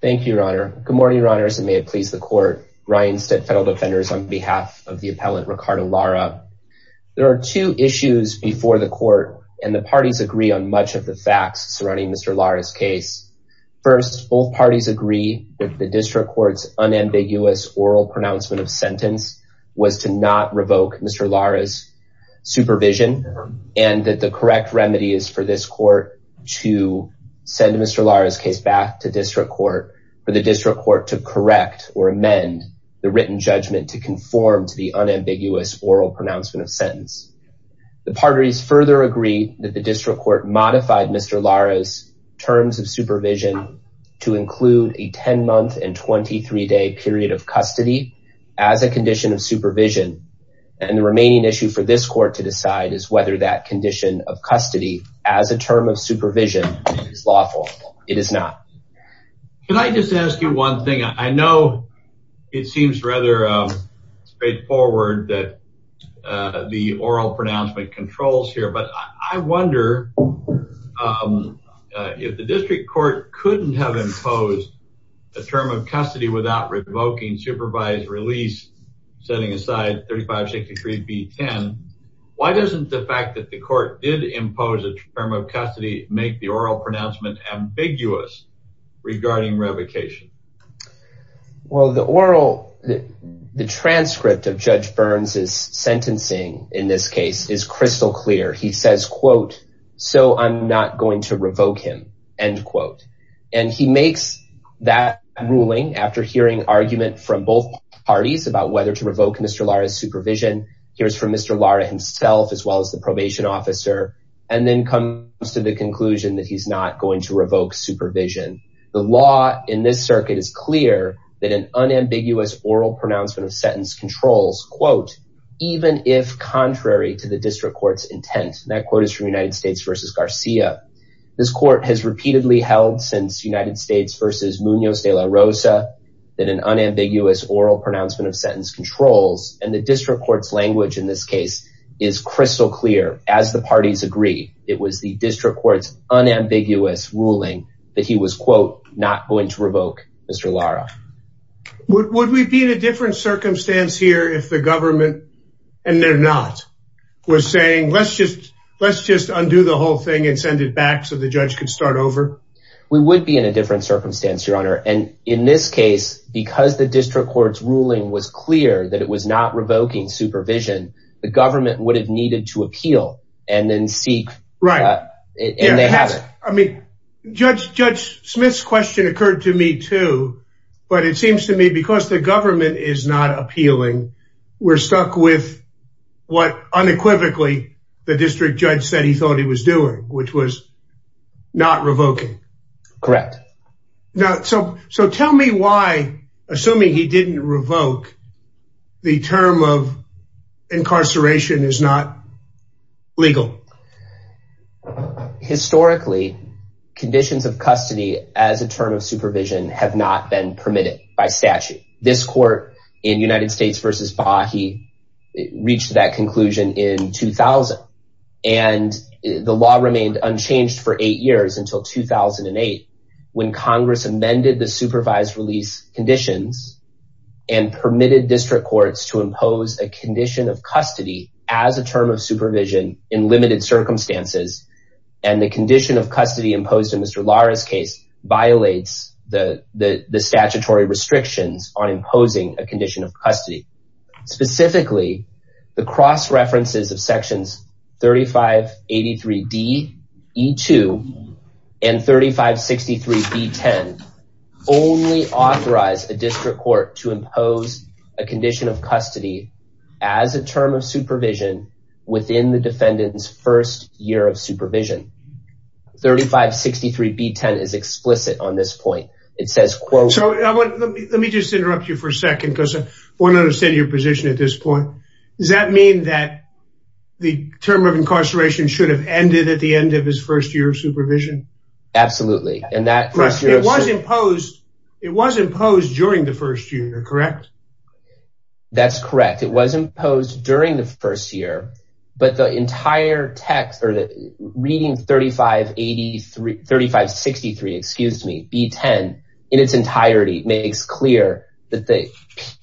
Thank you, your honor. Good morning, your honors, and may it please the court. Ryan Stitt, federal defenders, on behalf of the appellant Ricardo Lara. There are two issues before the court and the parties agree on much of the facts surrounding Mr. Lara's case. First, both parties agree that the district court's unambiguous oral pronouncement of sentence was to not revoke Mr. Lara's supervision and that the correct remedy is for this to send Mr. Lara's case back to district court for the district court to correct or amend the written judgment to conform to the unambiguous oral pronouncement of sentence. The parties further agree that the district court modified Mr. Lara's terms of supervision to include a 10-month and 23-day period of custody as a condition of supervision and the remaining issue for this court to decide is whether that condition of custody as a term of supervision is lawful. It is not. Ricardo Lara Can I just ask you one thing? I know it seems rather straightforward that the oral pronouncement controls here, but I wonder if the district court couldn't have imposed a term of custody without revoking supervised release, setting aside 35-63-B-10. Why doesn't the fact that the court did impose a term of custody make the oral pronouncement ambiguous regarding revocation? Well, the oral, the transcript of Judge Burns' sentencing in this case is crystal clear. He says, quote, so I'm not going to revoke him, end quote. And he makes that ruling after hearing argument from both parties about whether to revoke Mr. Lara's supervision. Here's from Mr. Lara himself, as well as the probation officer, and then comes to the conclusion that he's not going to revoke supervision. The law in this circuit is clear that an unambiguous oral pronouncement of sentence controls, quote, even if contrary to the district court's intent. That quote is from United States versus Garcia. This court has repeatedly held since United States versus Munoz de la Rosa that an unambiguous oral pronouncement of sentence controls, and the district court's language in this case is crystal clear. As the parties agree, it was the district court's unambiguous ruling that he was, quote, not going to revoke Mr. Lara. Would we be in a different circumstance here if the government, and they're not, was saying let's just undo the whole thing and send it back so the judge could start over? We would be in a different circumstance, your honor. And in this case, because the district court's ruling was clear that it was not revoking supervision, the government would have needed to appeal and then seek, and they haven't. I mean, Judge Smith's question occurred to me too, but it seems to me because the government is not appealing, we're stuck with what unequivocally the district judge said he thought he was doing, which was not revoking. Correct. So tell me why, assuming he didn't revoke, the term of incarceration is not legal. Historically, conditions of custody as a term of supervision have not been permitted by statute. This court in United States v. Baha'i reached that conclusion in 2000, and the law remained unchanged for eight years until 2008 when Congress amended the supervised release conditions and permitted district courts to impose a condition of custody as a term of supervision in limited circumstances. And the condition of custody imposed in Mr. Lara's case violates the statutory restrictions on imposing a condition of custody. Specifically, the cross-references of sections 3583D, E2, and 3563B10 only authorize a district court to impose a condition of custody as a term of supervision within the defendant's first year of supervision. 3563B10 is explicit on this point. Let me just interrupt you for a second because I want to understand your position at this point. Does that mean that the term of incarceration should have ended at the end of his first year of supervision? Absolutely. It was imposed during the first year, correct? That's correct. It was imposed during the first year, but the entire text or the reading 3583, 3563, excuse me, B10 in its entirety makes clear that the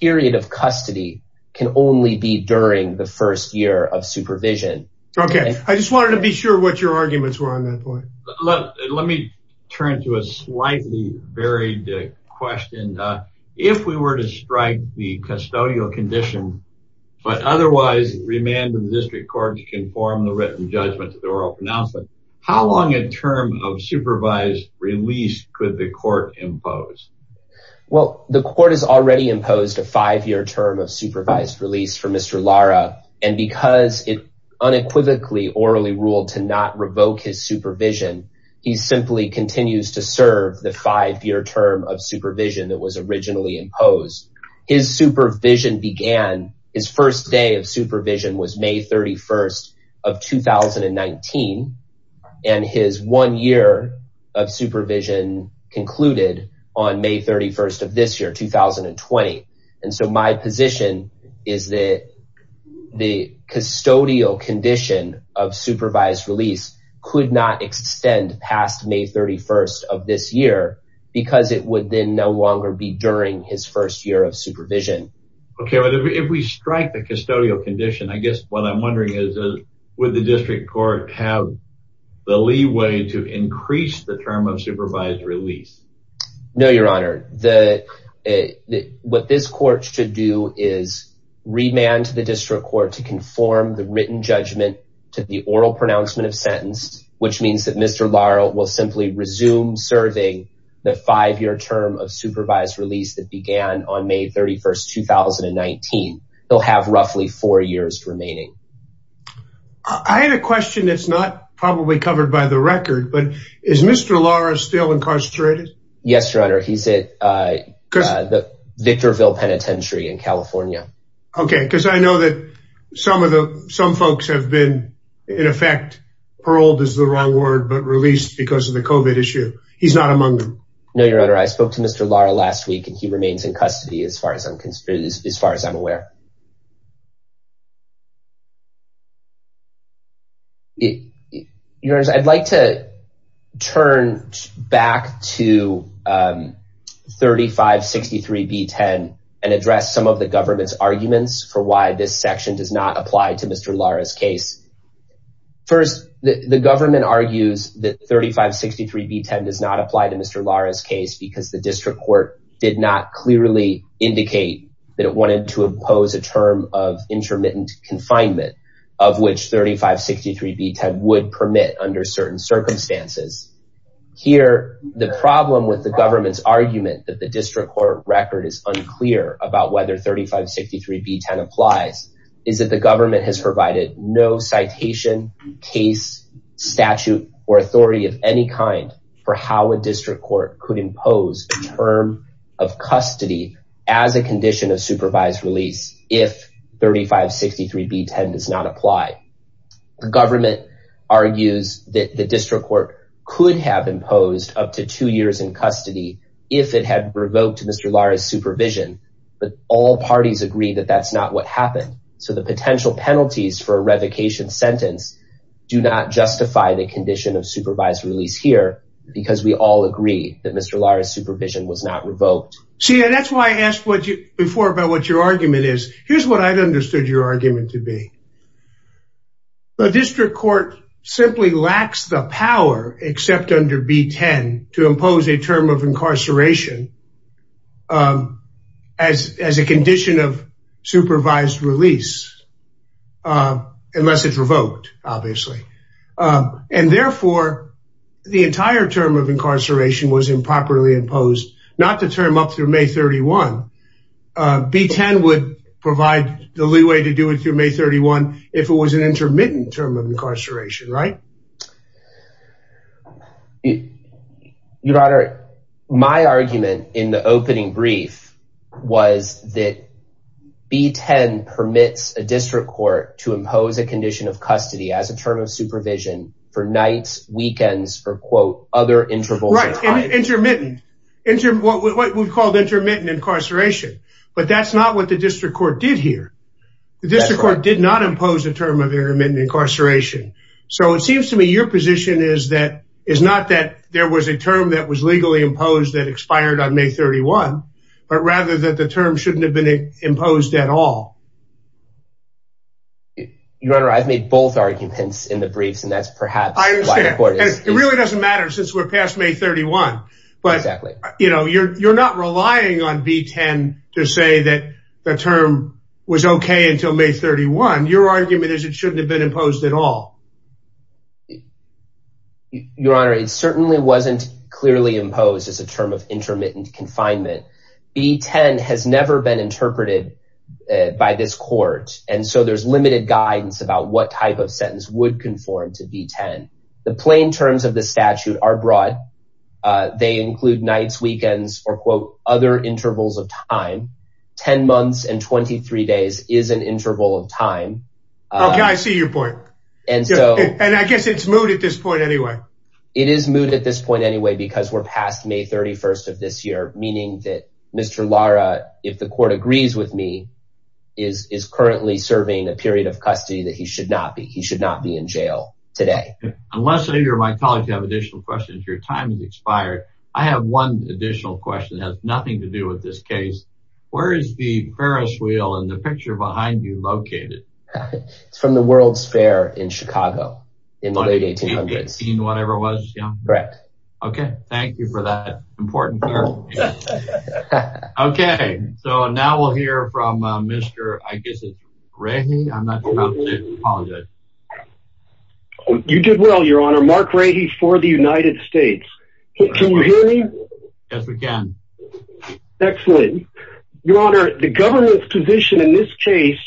period of custody can only be during the first year of supervision. Okay. I just wanted to be sure what your arguments were on that point. Look, let me turn to a slightly varied question. If we were to strike the custodial condition, but otherwise remand of the district court to conform the written judgment to the oral pronouncement, how long a term of supervised release could the court impose? Well, the court has already imposed a five-year term of supervised release for Mr. Lara. And because it unequivocally orally ruled to not revoke his supervision, he simply continues to serve the five-year term of supervision that was originally imposed. His supervision began, his first day of supervision was May 31st of 2019. And his one year of supervision concluded on May 31st of this year, 2020. And so my position is that the custodial condition of supervised release could not extend past May 31st of this year because it would then no longer be during his first year of supervision. Okay. If we strike the custodial condition, I guess what I'm wondering is, would the district court have the leeway to increase the term of supervised release? No, your honor. What this court should do is remand the district court to conform the written judgment to the oral pronouncement of sentence, which means that Mr. Lara will simply resume serving the five-year term of supervised release that began on May 31st, 2019. He'll have roughly four years remaining. I had a question that's not probably covered by the record, but is Mr. Lara still incarcerated? Yes, your honor. He's at the Victorville Penitentiary in California. Okay. Because I know that some folks have been, in effect, paroled is the wrong word, but released because of the COVID issue. He's not among them. No, your honor. I spoke to Mr. Lara last week and he remains in custody as far as I'm aware. Your honors, I'd like to turn back to 3563B10 and address some of the government's arguments for why this section does not apply to Mr. Lara's case. First, the government argues that 3563B10 does not apply to Mr. Lara's case because the district court did not clearly indicate that it to impose a term of intermittent confinement of which 3563B10 would permit under certain circumstances. Here, the problem with the government's argument that the district court record is unclear about whether 3563B10 applies is that the government has provided no citation, case, statute, or authority of any kind for how a district court could impose a term of custody as a condition of supervised release if 3563B10 does not apply. The government argues that the district court could have imposed up to two years in custody if it had revoked Mr. Lara's supervision, but all parties agree that that's not what happened. So the potential penalties for a revocation sentence do not justify the condition of supervised release here because we all agree that Mr. Lara's supervision was not revoked. See, that's why I asked before about what your argument is. Here's what I'd understood your argument to be. The district court simply lacks the power except under 3563B10 to impose a term of incarceration as a condition of supervised release unless it's revoked, obviously. And therefore, the entire term of incarceration was improperly imposed, not the term up through May 31. B10 would provide the leeway to do it through May 31 if it was an intermittent term of incarceration, right? Your Honor, my argument in the opening brief was that B10 permits a for nights, weekends, or quote, other intervals of time. Intermittent. What we've called intermittent incarceration. But that's not what the district court did here. The district court did not impose a term of intermittent incarceration. So it seems to me your position is that, is not that there was a term that was legally imposed that expired on May 31, but rather that the term shouldn't have been imposed at all. Your Honor, I've made both arguments in the briefs, and that's perhaps why the court is- I understand. It really doesn't matter since we're past May 31. Exactly. But you're not relying on B10 to say that the term was okay until May 31. Your argument is it shouldn't have been imposed at all. Your Honor, it certainly wasn't clearly imposed as a term of and so there's limited guidance about what type of sentence would conform to B10. The plain terms of the statute are broad. They include nights, weekends, or quote, other intervals of time. 10 months and 23 days is an interval of time. Okay, I see your point. And I guess it's moot at this point anyway. It is moot at this point anyway, because we're past May 31 of this year, meaning that Mr. Lara, if the court agrees with me, is currently serving a period of custody that he should not be. He should not be in jail today. Unless either of my colleagues have additional questions, your time has expired. I have one additional question that has nothing to do with this case. Where is the Ferris wheel and the picture behind you located? It's from the World's Fair in Chicago in the late 1800s. 18-whatever it was, yeah? Correct. Okay, thank you for that important clarification. Okay, so now we'll hear from Mr. I guess it's Rahe. I'm not sure how to say it. I apologize. You did well, your honor. Mark Rahe for the United States. Can you hear me? Yes, we can. Excellent. Your honor, the government's position in this case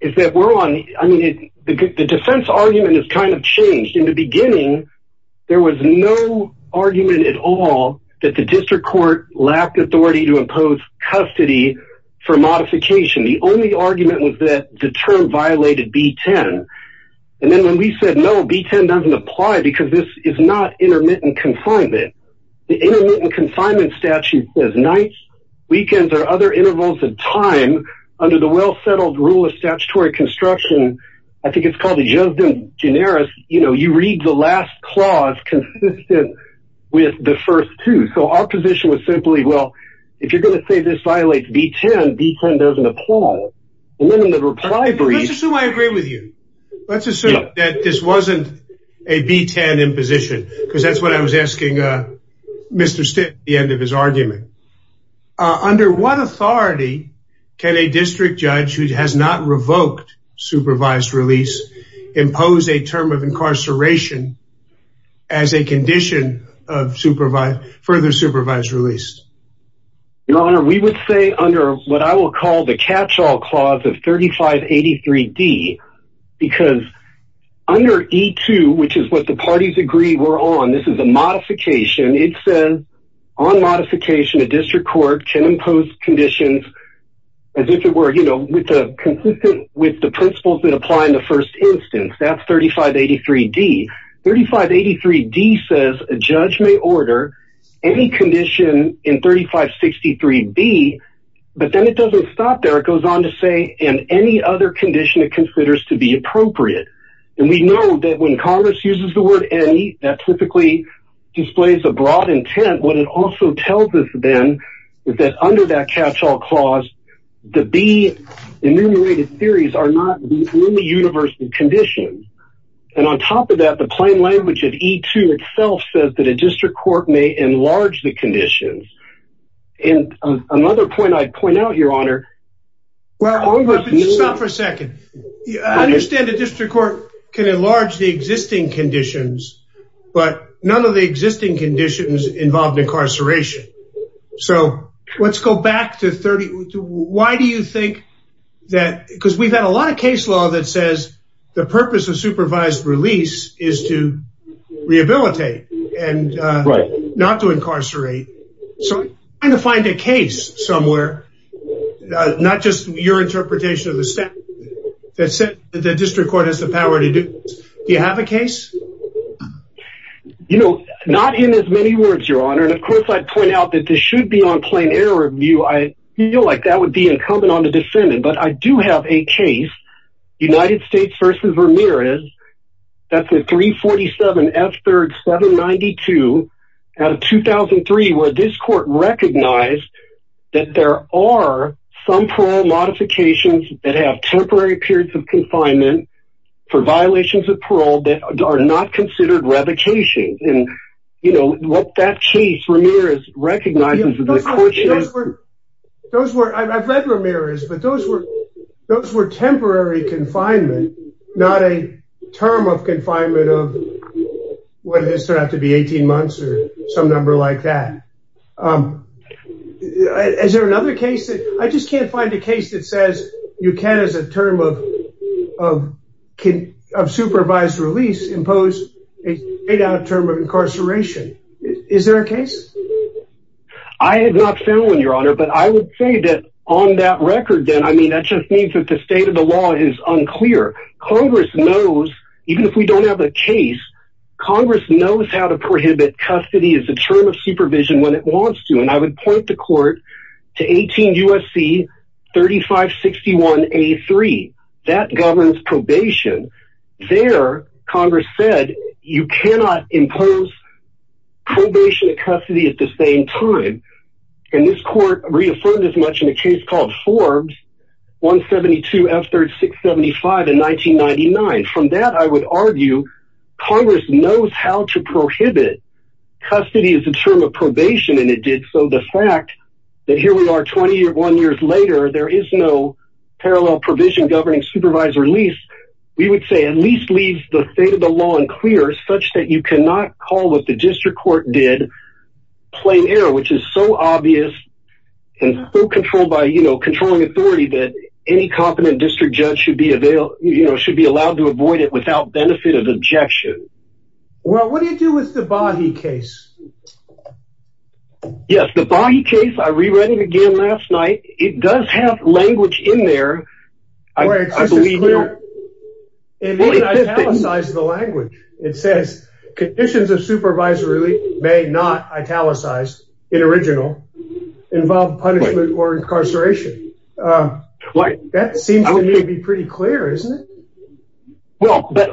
is that we're on, I mean, the defense argument has kind of changed. In the beginning, there was no argument at all that the district court lacked authority to impose custody for modification. The only argument was that the term violated B-10. And then when we said no, B-10 doesn't apply because this is not intermittent confinement. The intermittent confinement statute says nights, weekends, or other intervals of time under the well-settled rule of statutory construction. I think it's called the just in generis, you know, you read the last clause consistent with the first two. So our position was simply, well, if you're going to say this violates B-10, B-10 doesn't apply. Let's assume I agree with you. Let's assume that this wasn't a B-10 imposition, because that's what I was asking Mr. Stitt at the end of his argument. Under what authority can a district judge who has not revoked supervised release impose a term of incarceration as a condition of supervised, further supervised release? Your honor, we would say under what I will call the catch-all clause of 3583-D, because under E-2, which is what the parties agree we're on, this is a modification. It says on modification, a district court can impose conditions as if it were consistent with the principles that apply in the first instance. That's 3583-D. 3583-D says a judge may order any condition in 3563-B, but then it doesn't stop there. It goes on to say, in any other condition it considers to be appropriate. And we know that when Congress uses the word any, that typically displays a broad intent. What it also tells us then is that under that catch-all clause, the B enumerated theories are not the only universal conditions. And on top of that, the plain language of E-2 itself says that a district court may enlarge the conditions. And another point I'd point out, your honor... Stop for a second. I understand a district court can enlarge the existing conditions, but none of the existing conditions involve incarceration. So let's go back to 30... Why do you think that... Because we've had a lot of case law that says the purpose of supervised release is to rehabilitate and not to incarcerate. So trying to find a case somewhere, not just your interpretation of the statute, that the district court has the power to do. Do you have a case? You know, not in as many words, your honor. And of course, I'd point out that this should be on plain error review. I feel like that would be incumbent on the defendant. But I do have a case, United States versus Ramirez. That's a 347-F3-792 out of 2003, where this court recognized that there are some parole modifications that have temporary periods of confinement for violations of parole that are not considered revocation. And, you know, what that case, Ramirez, recognizes... Those were... I've read Ramirez, but those were temporary confinement, not a term of confinement of, what, does it have to be 18 months or some number like that. Is there another case that... I just can't find a case that says you can, as a term of supervised release, impose a term of incarceration. Is there a case? I have not found one, your honor. But I would say that on that record, then, I mean, that just means that the state of the law is unclear. Congress knows, even if we don't have a term of supervision when it wants to. And I would point the court to 18 U.S.C. 3561-A3. That governs probation. There, Congress said, you cannot impose probation at custody at the same time. And this court reaffirmed as much in a case called Forbes 172-F3-675 in 1999. From that, I would argue, Congress knows how to prohibit custody as a term of probation, and it did so. The fact that here we are 21 years later, there is no parallel provision governing supervised release, we would say, at least leaves the state of the law unclear, such that you cannot call what the district court did plain error, which is so obvious and so controlled by, you know, controlling authority that any competent district judge you know, should be allowed to avoid it without benefit of objection. Well, what do you do with the Bahi case? Yes, the Bahi case, I re-read it again last night. It does have language in there. It didn't italicize the language. It says, conditions of supervised release may not require it. Well, but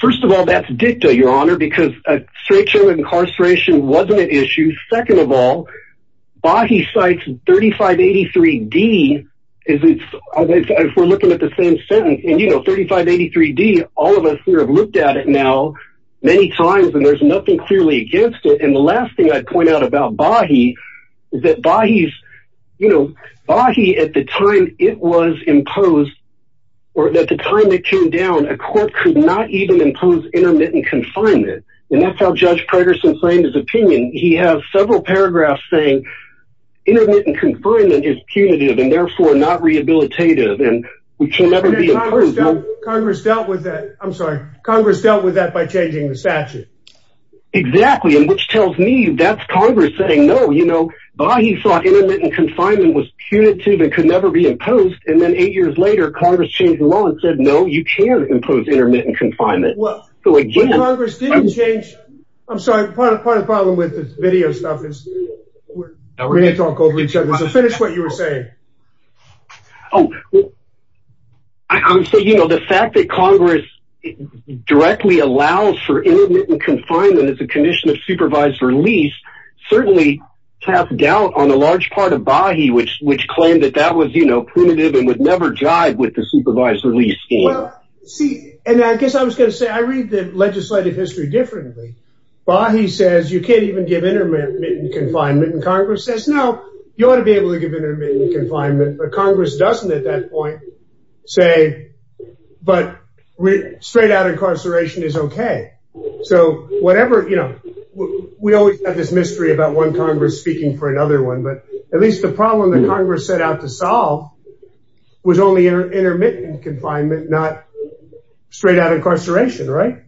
first of all, that's dicta, your honor, because incarceration wasn't an issue. Second of all, Bahi cites 3583-D, if we're looking at the same sentence, and you know, 3583-D, all of us here have looked at it now many times, and there's nothing clearly against it. And the last thing I'd point out about Bahi is that Bahi's, you know, Bahi, at the time it was imposed, or at the time it came down, a court could not even impose intermittent confinement. And that's how Judge Preterson claimed his opinion. He has several paragraphs saying, intermittent confinement is punitive and therefore not rehabilitative. Congress dealt with that. I'm sorry. Congress dealt with that by changing the statute. Exactly. And which tells me that's Congress saying, no, you know, Bahi thought intermittent confinement was punitive and could never be imposed. And then eight years later, Congress changed the law and said, no, you can't impose intermittent confinement. Well, Congress didn't change. I'm sorry, part of the problem with this video stuff is we're going to talk over each other. So finish what you were saying. Oh, I'm saying, you know, the fact that Congress directly allows for intermittent confinement as a condition of supervised release, certainly tapped out on a large part of Bahi, which claimed that that was, you know, punitive and would never jive with the supervised release scheme. And I guess I was going to say, I read the legislative history differently. Bahi says, you can't even give intermittent confinement. And Congress says, no, you ought to be able to give intermittent confinement. But Congress doesn't at that point, say, but straight out incarceration is okay. So whatever, you know, we always have this mystery about one Congress speaking for another one. But at least the problem that Congress set out to solve was only intermittent confinement, not straight out incarceration, right?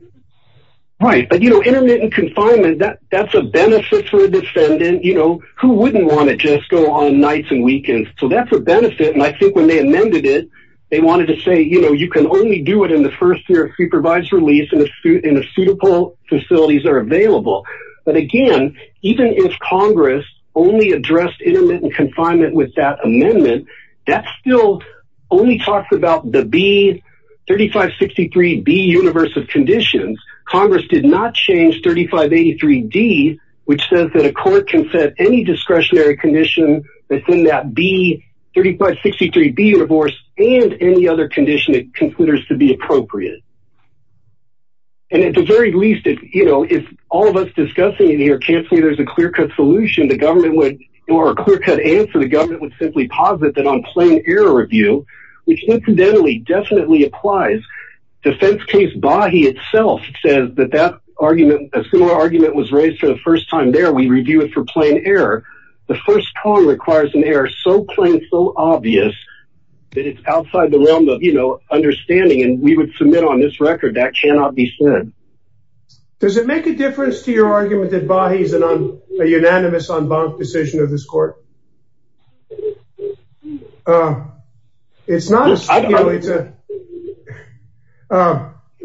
Right. But, you know, intermittent confinement, that's a benefit for a defendant, you know, who wouldn't want to just go on nights and weekends. So that's a benefit. And I think when they amended it, they wanted to say, you know, you can only do it in the first year supervised release in a suit in a suitable facilities are available. But again, even if Congress only addressed intermittent confinement with that amendment, that still only talks about the B 3563 B universe of conditions, Congress did not change 3583 D, which says that a court can set any discretionary condition within that B 3563 B universe and any other condition it considers to be appropriate. And at the very least, if you know, if all of us discussing in here can't see there's a clear cut solution, the government would or a clear cut answer, the government would simply posit that on plain error review, which incidentally definitely applies. Defense case by he itself says that that argument, a similar argument was raised for the first time there, we review it for plain error. The first column requires an error so plain, so obvious, that it's outside the realm of, you know, understanding and we would submit on this record that cannot be said. Does it make a difference to your argument that bodies and on a unanimous on bonk decision of this court? It's not.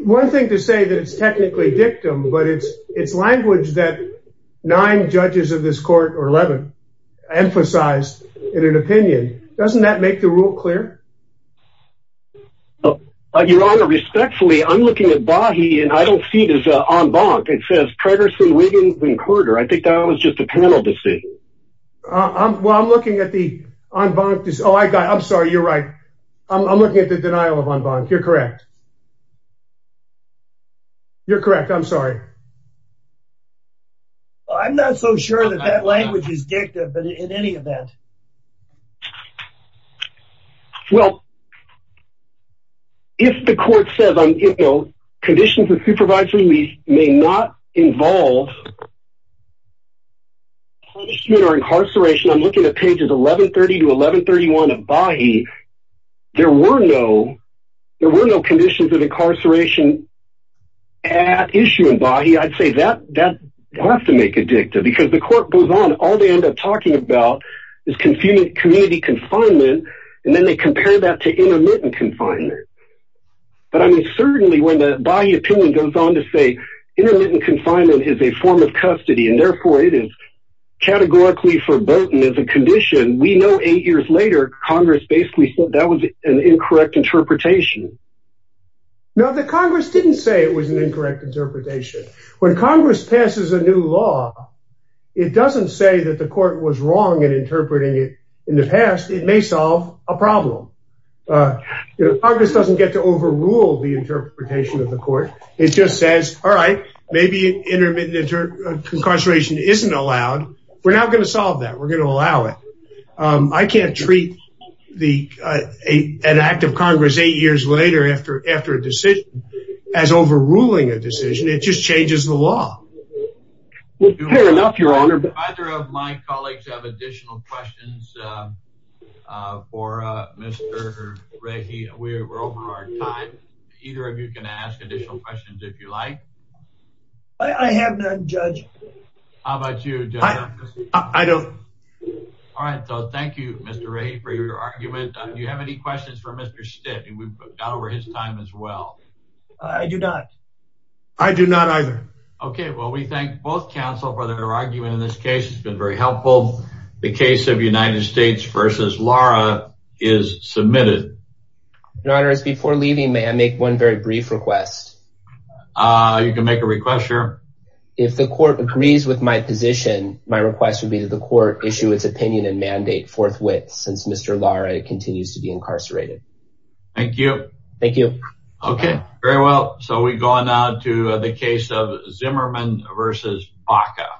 One thing to say that it's technically dictum, but it's it's language that nine judges of this rule clear. Your Honor, respectfully, I'm looking at body and I don't see this on bonk. It says Traversing Wiggins and Carter. I think that was just a panel decision. Well, I'm looking at the on bonk. Oh, I'm sorry. You're right. I'm looking at the denial of on bonk. You're correct. You're correct. I'm sorry. I'm not so sure that that language is dictum, but in any event, well, if the court says, you know, conditions of supervisory may not involve punishment or incarceration, I'm looking at pages 1130 to 1131 of body. There were no, there were no conditions of incarceration at issue in body. I'd say that that has to make a dictum because the court goes on. All they end up talking about is community confinement. And then they compare that to intermittent confinement. But I mean, certainly when the body opinion goes on to say, intermittent confinement is a form of custody, and therefore it is categorically foreboding as a condition. We know eight years later, Congress basically said that was an incorrect interpretation. Now, the Congress didn't say it was an incorrect interpretation. When Congress passes a new law, it doesn't say that the in the past, it may solve a problem. Congress doesn't get to overrule the interpretation of the court. It just says, all right, maybe intermittent incarceration isn't allowed. We're not going to solve that. We're going to allow it. I can't treat an act of Congress eight years later after a decision as overruling a decision. It just changes the law. Well, fair enough, Your Honor. Do either of my colleagues have additional questions for Mr. Rahe? We're over our time. Either of you can ask additional questions if you like. I have none, Judge. How about you? I don't. All right. So thank you, Mr. Rahe, for your argument. Do you have any questions for Mr. Stitt? We've got over his time as well. I do not. I do not either. Okay. Well, we thank both counsel for their argument in this case. It's been very helpful. The case of United States v. Lara is submitted. Your Honor, before leaving, may I make one very brief request? You can make a request, sure. If the court agrees with my position, my request would be that the court issue its opinion and mandate forthwith since Mr. Lara continues to be incarcerated. Thank you. Thank you. Okay. Very well. So we go on now to the case of Zimmerman v. Baca.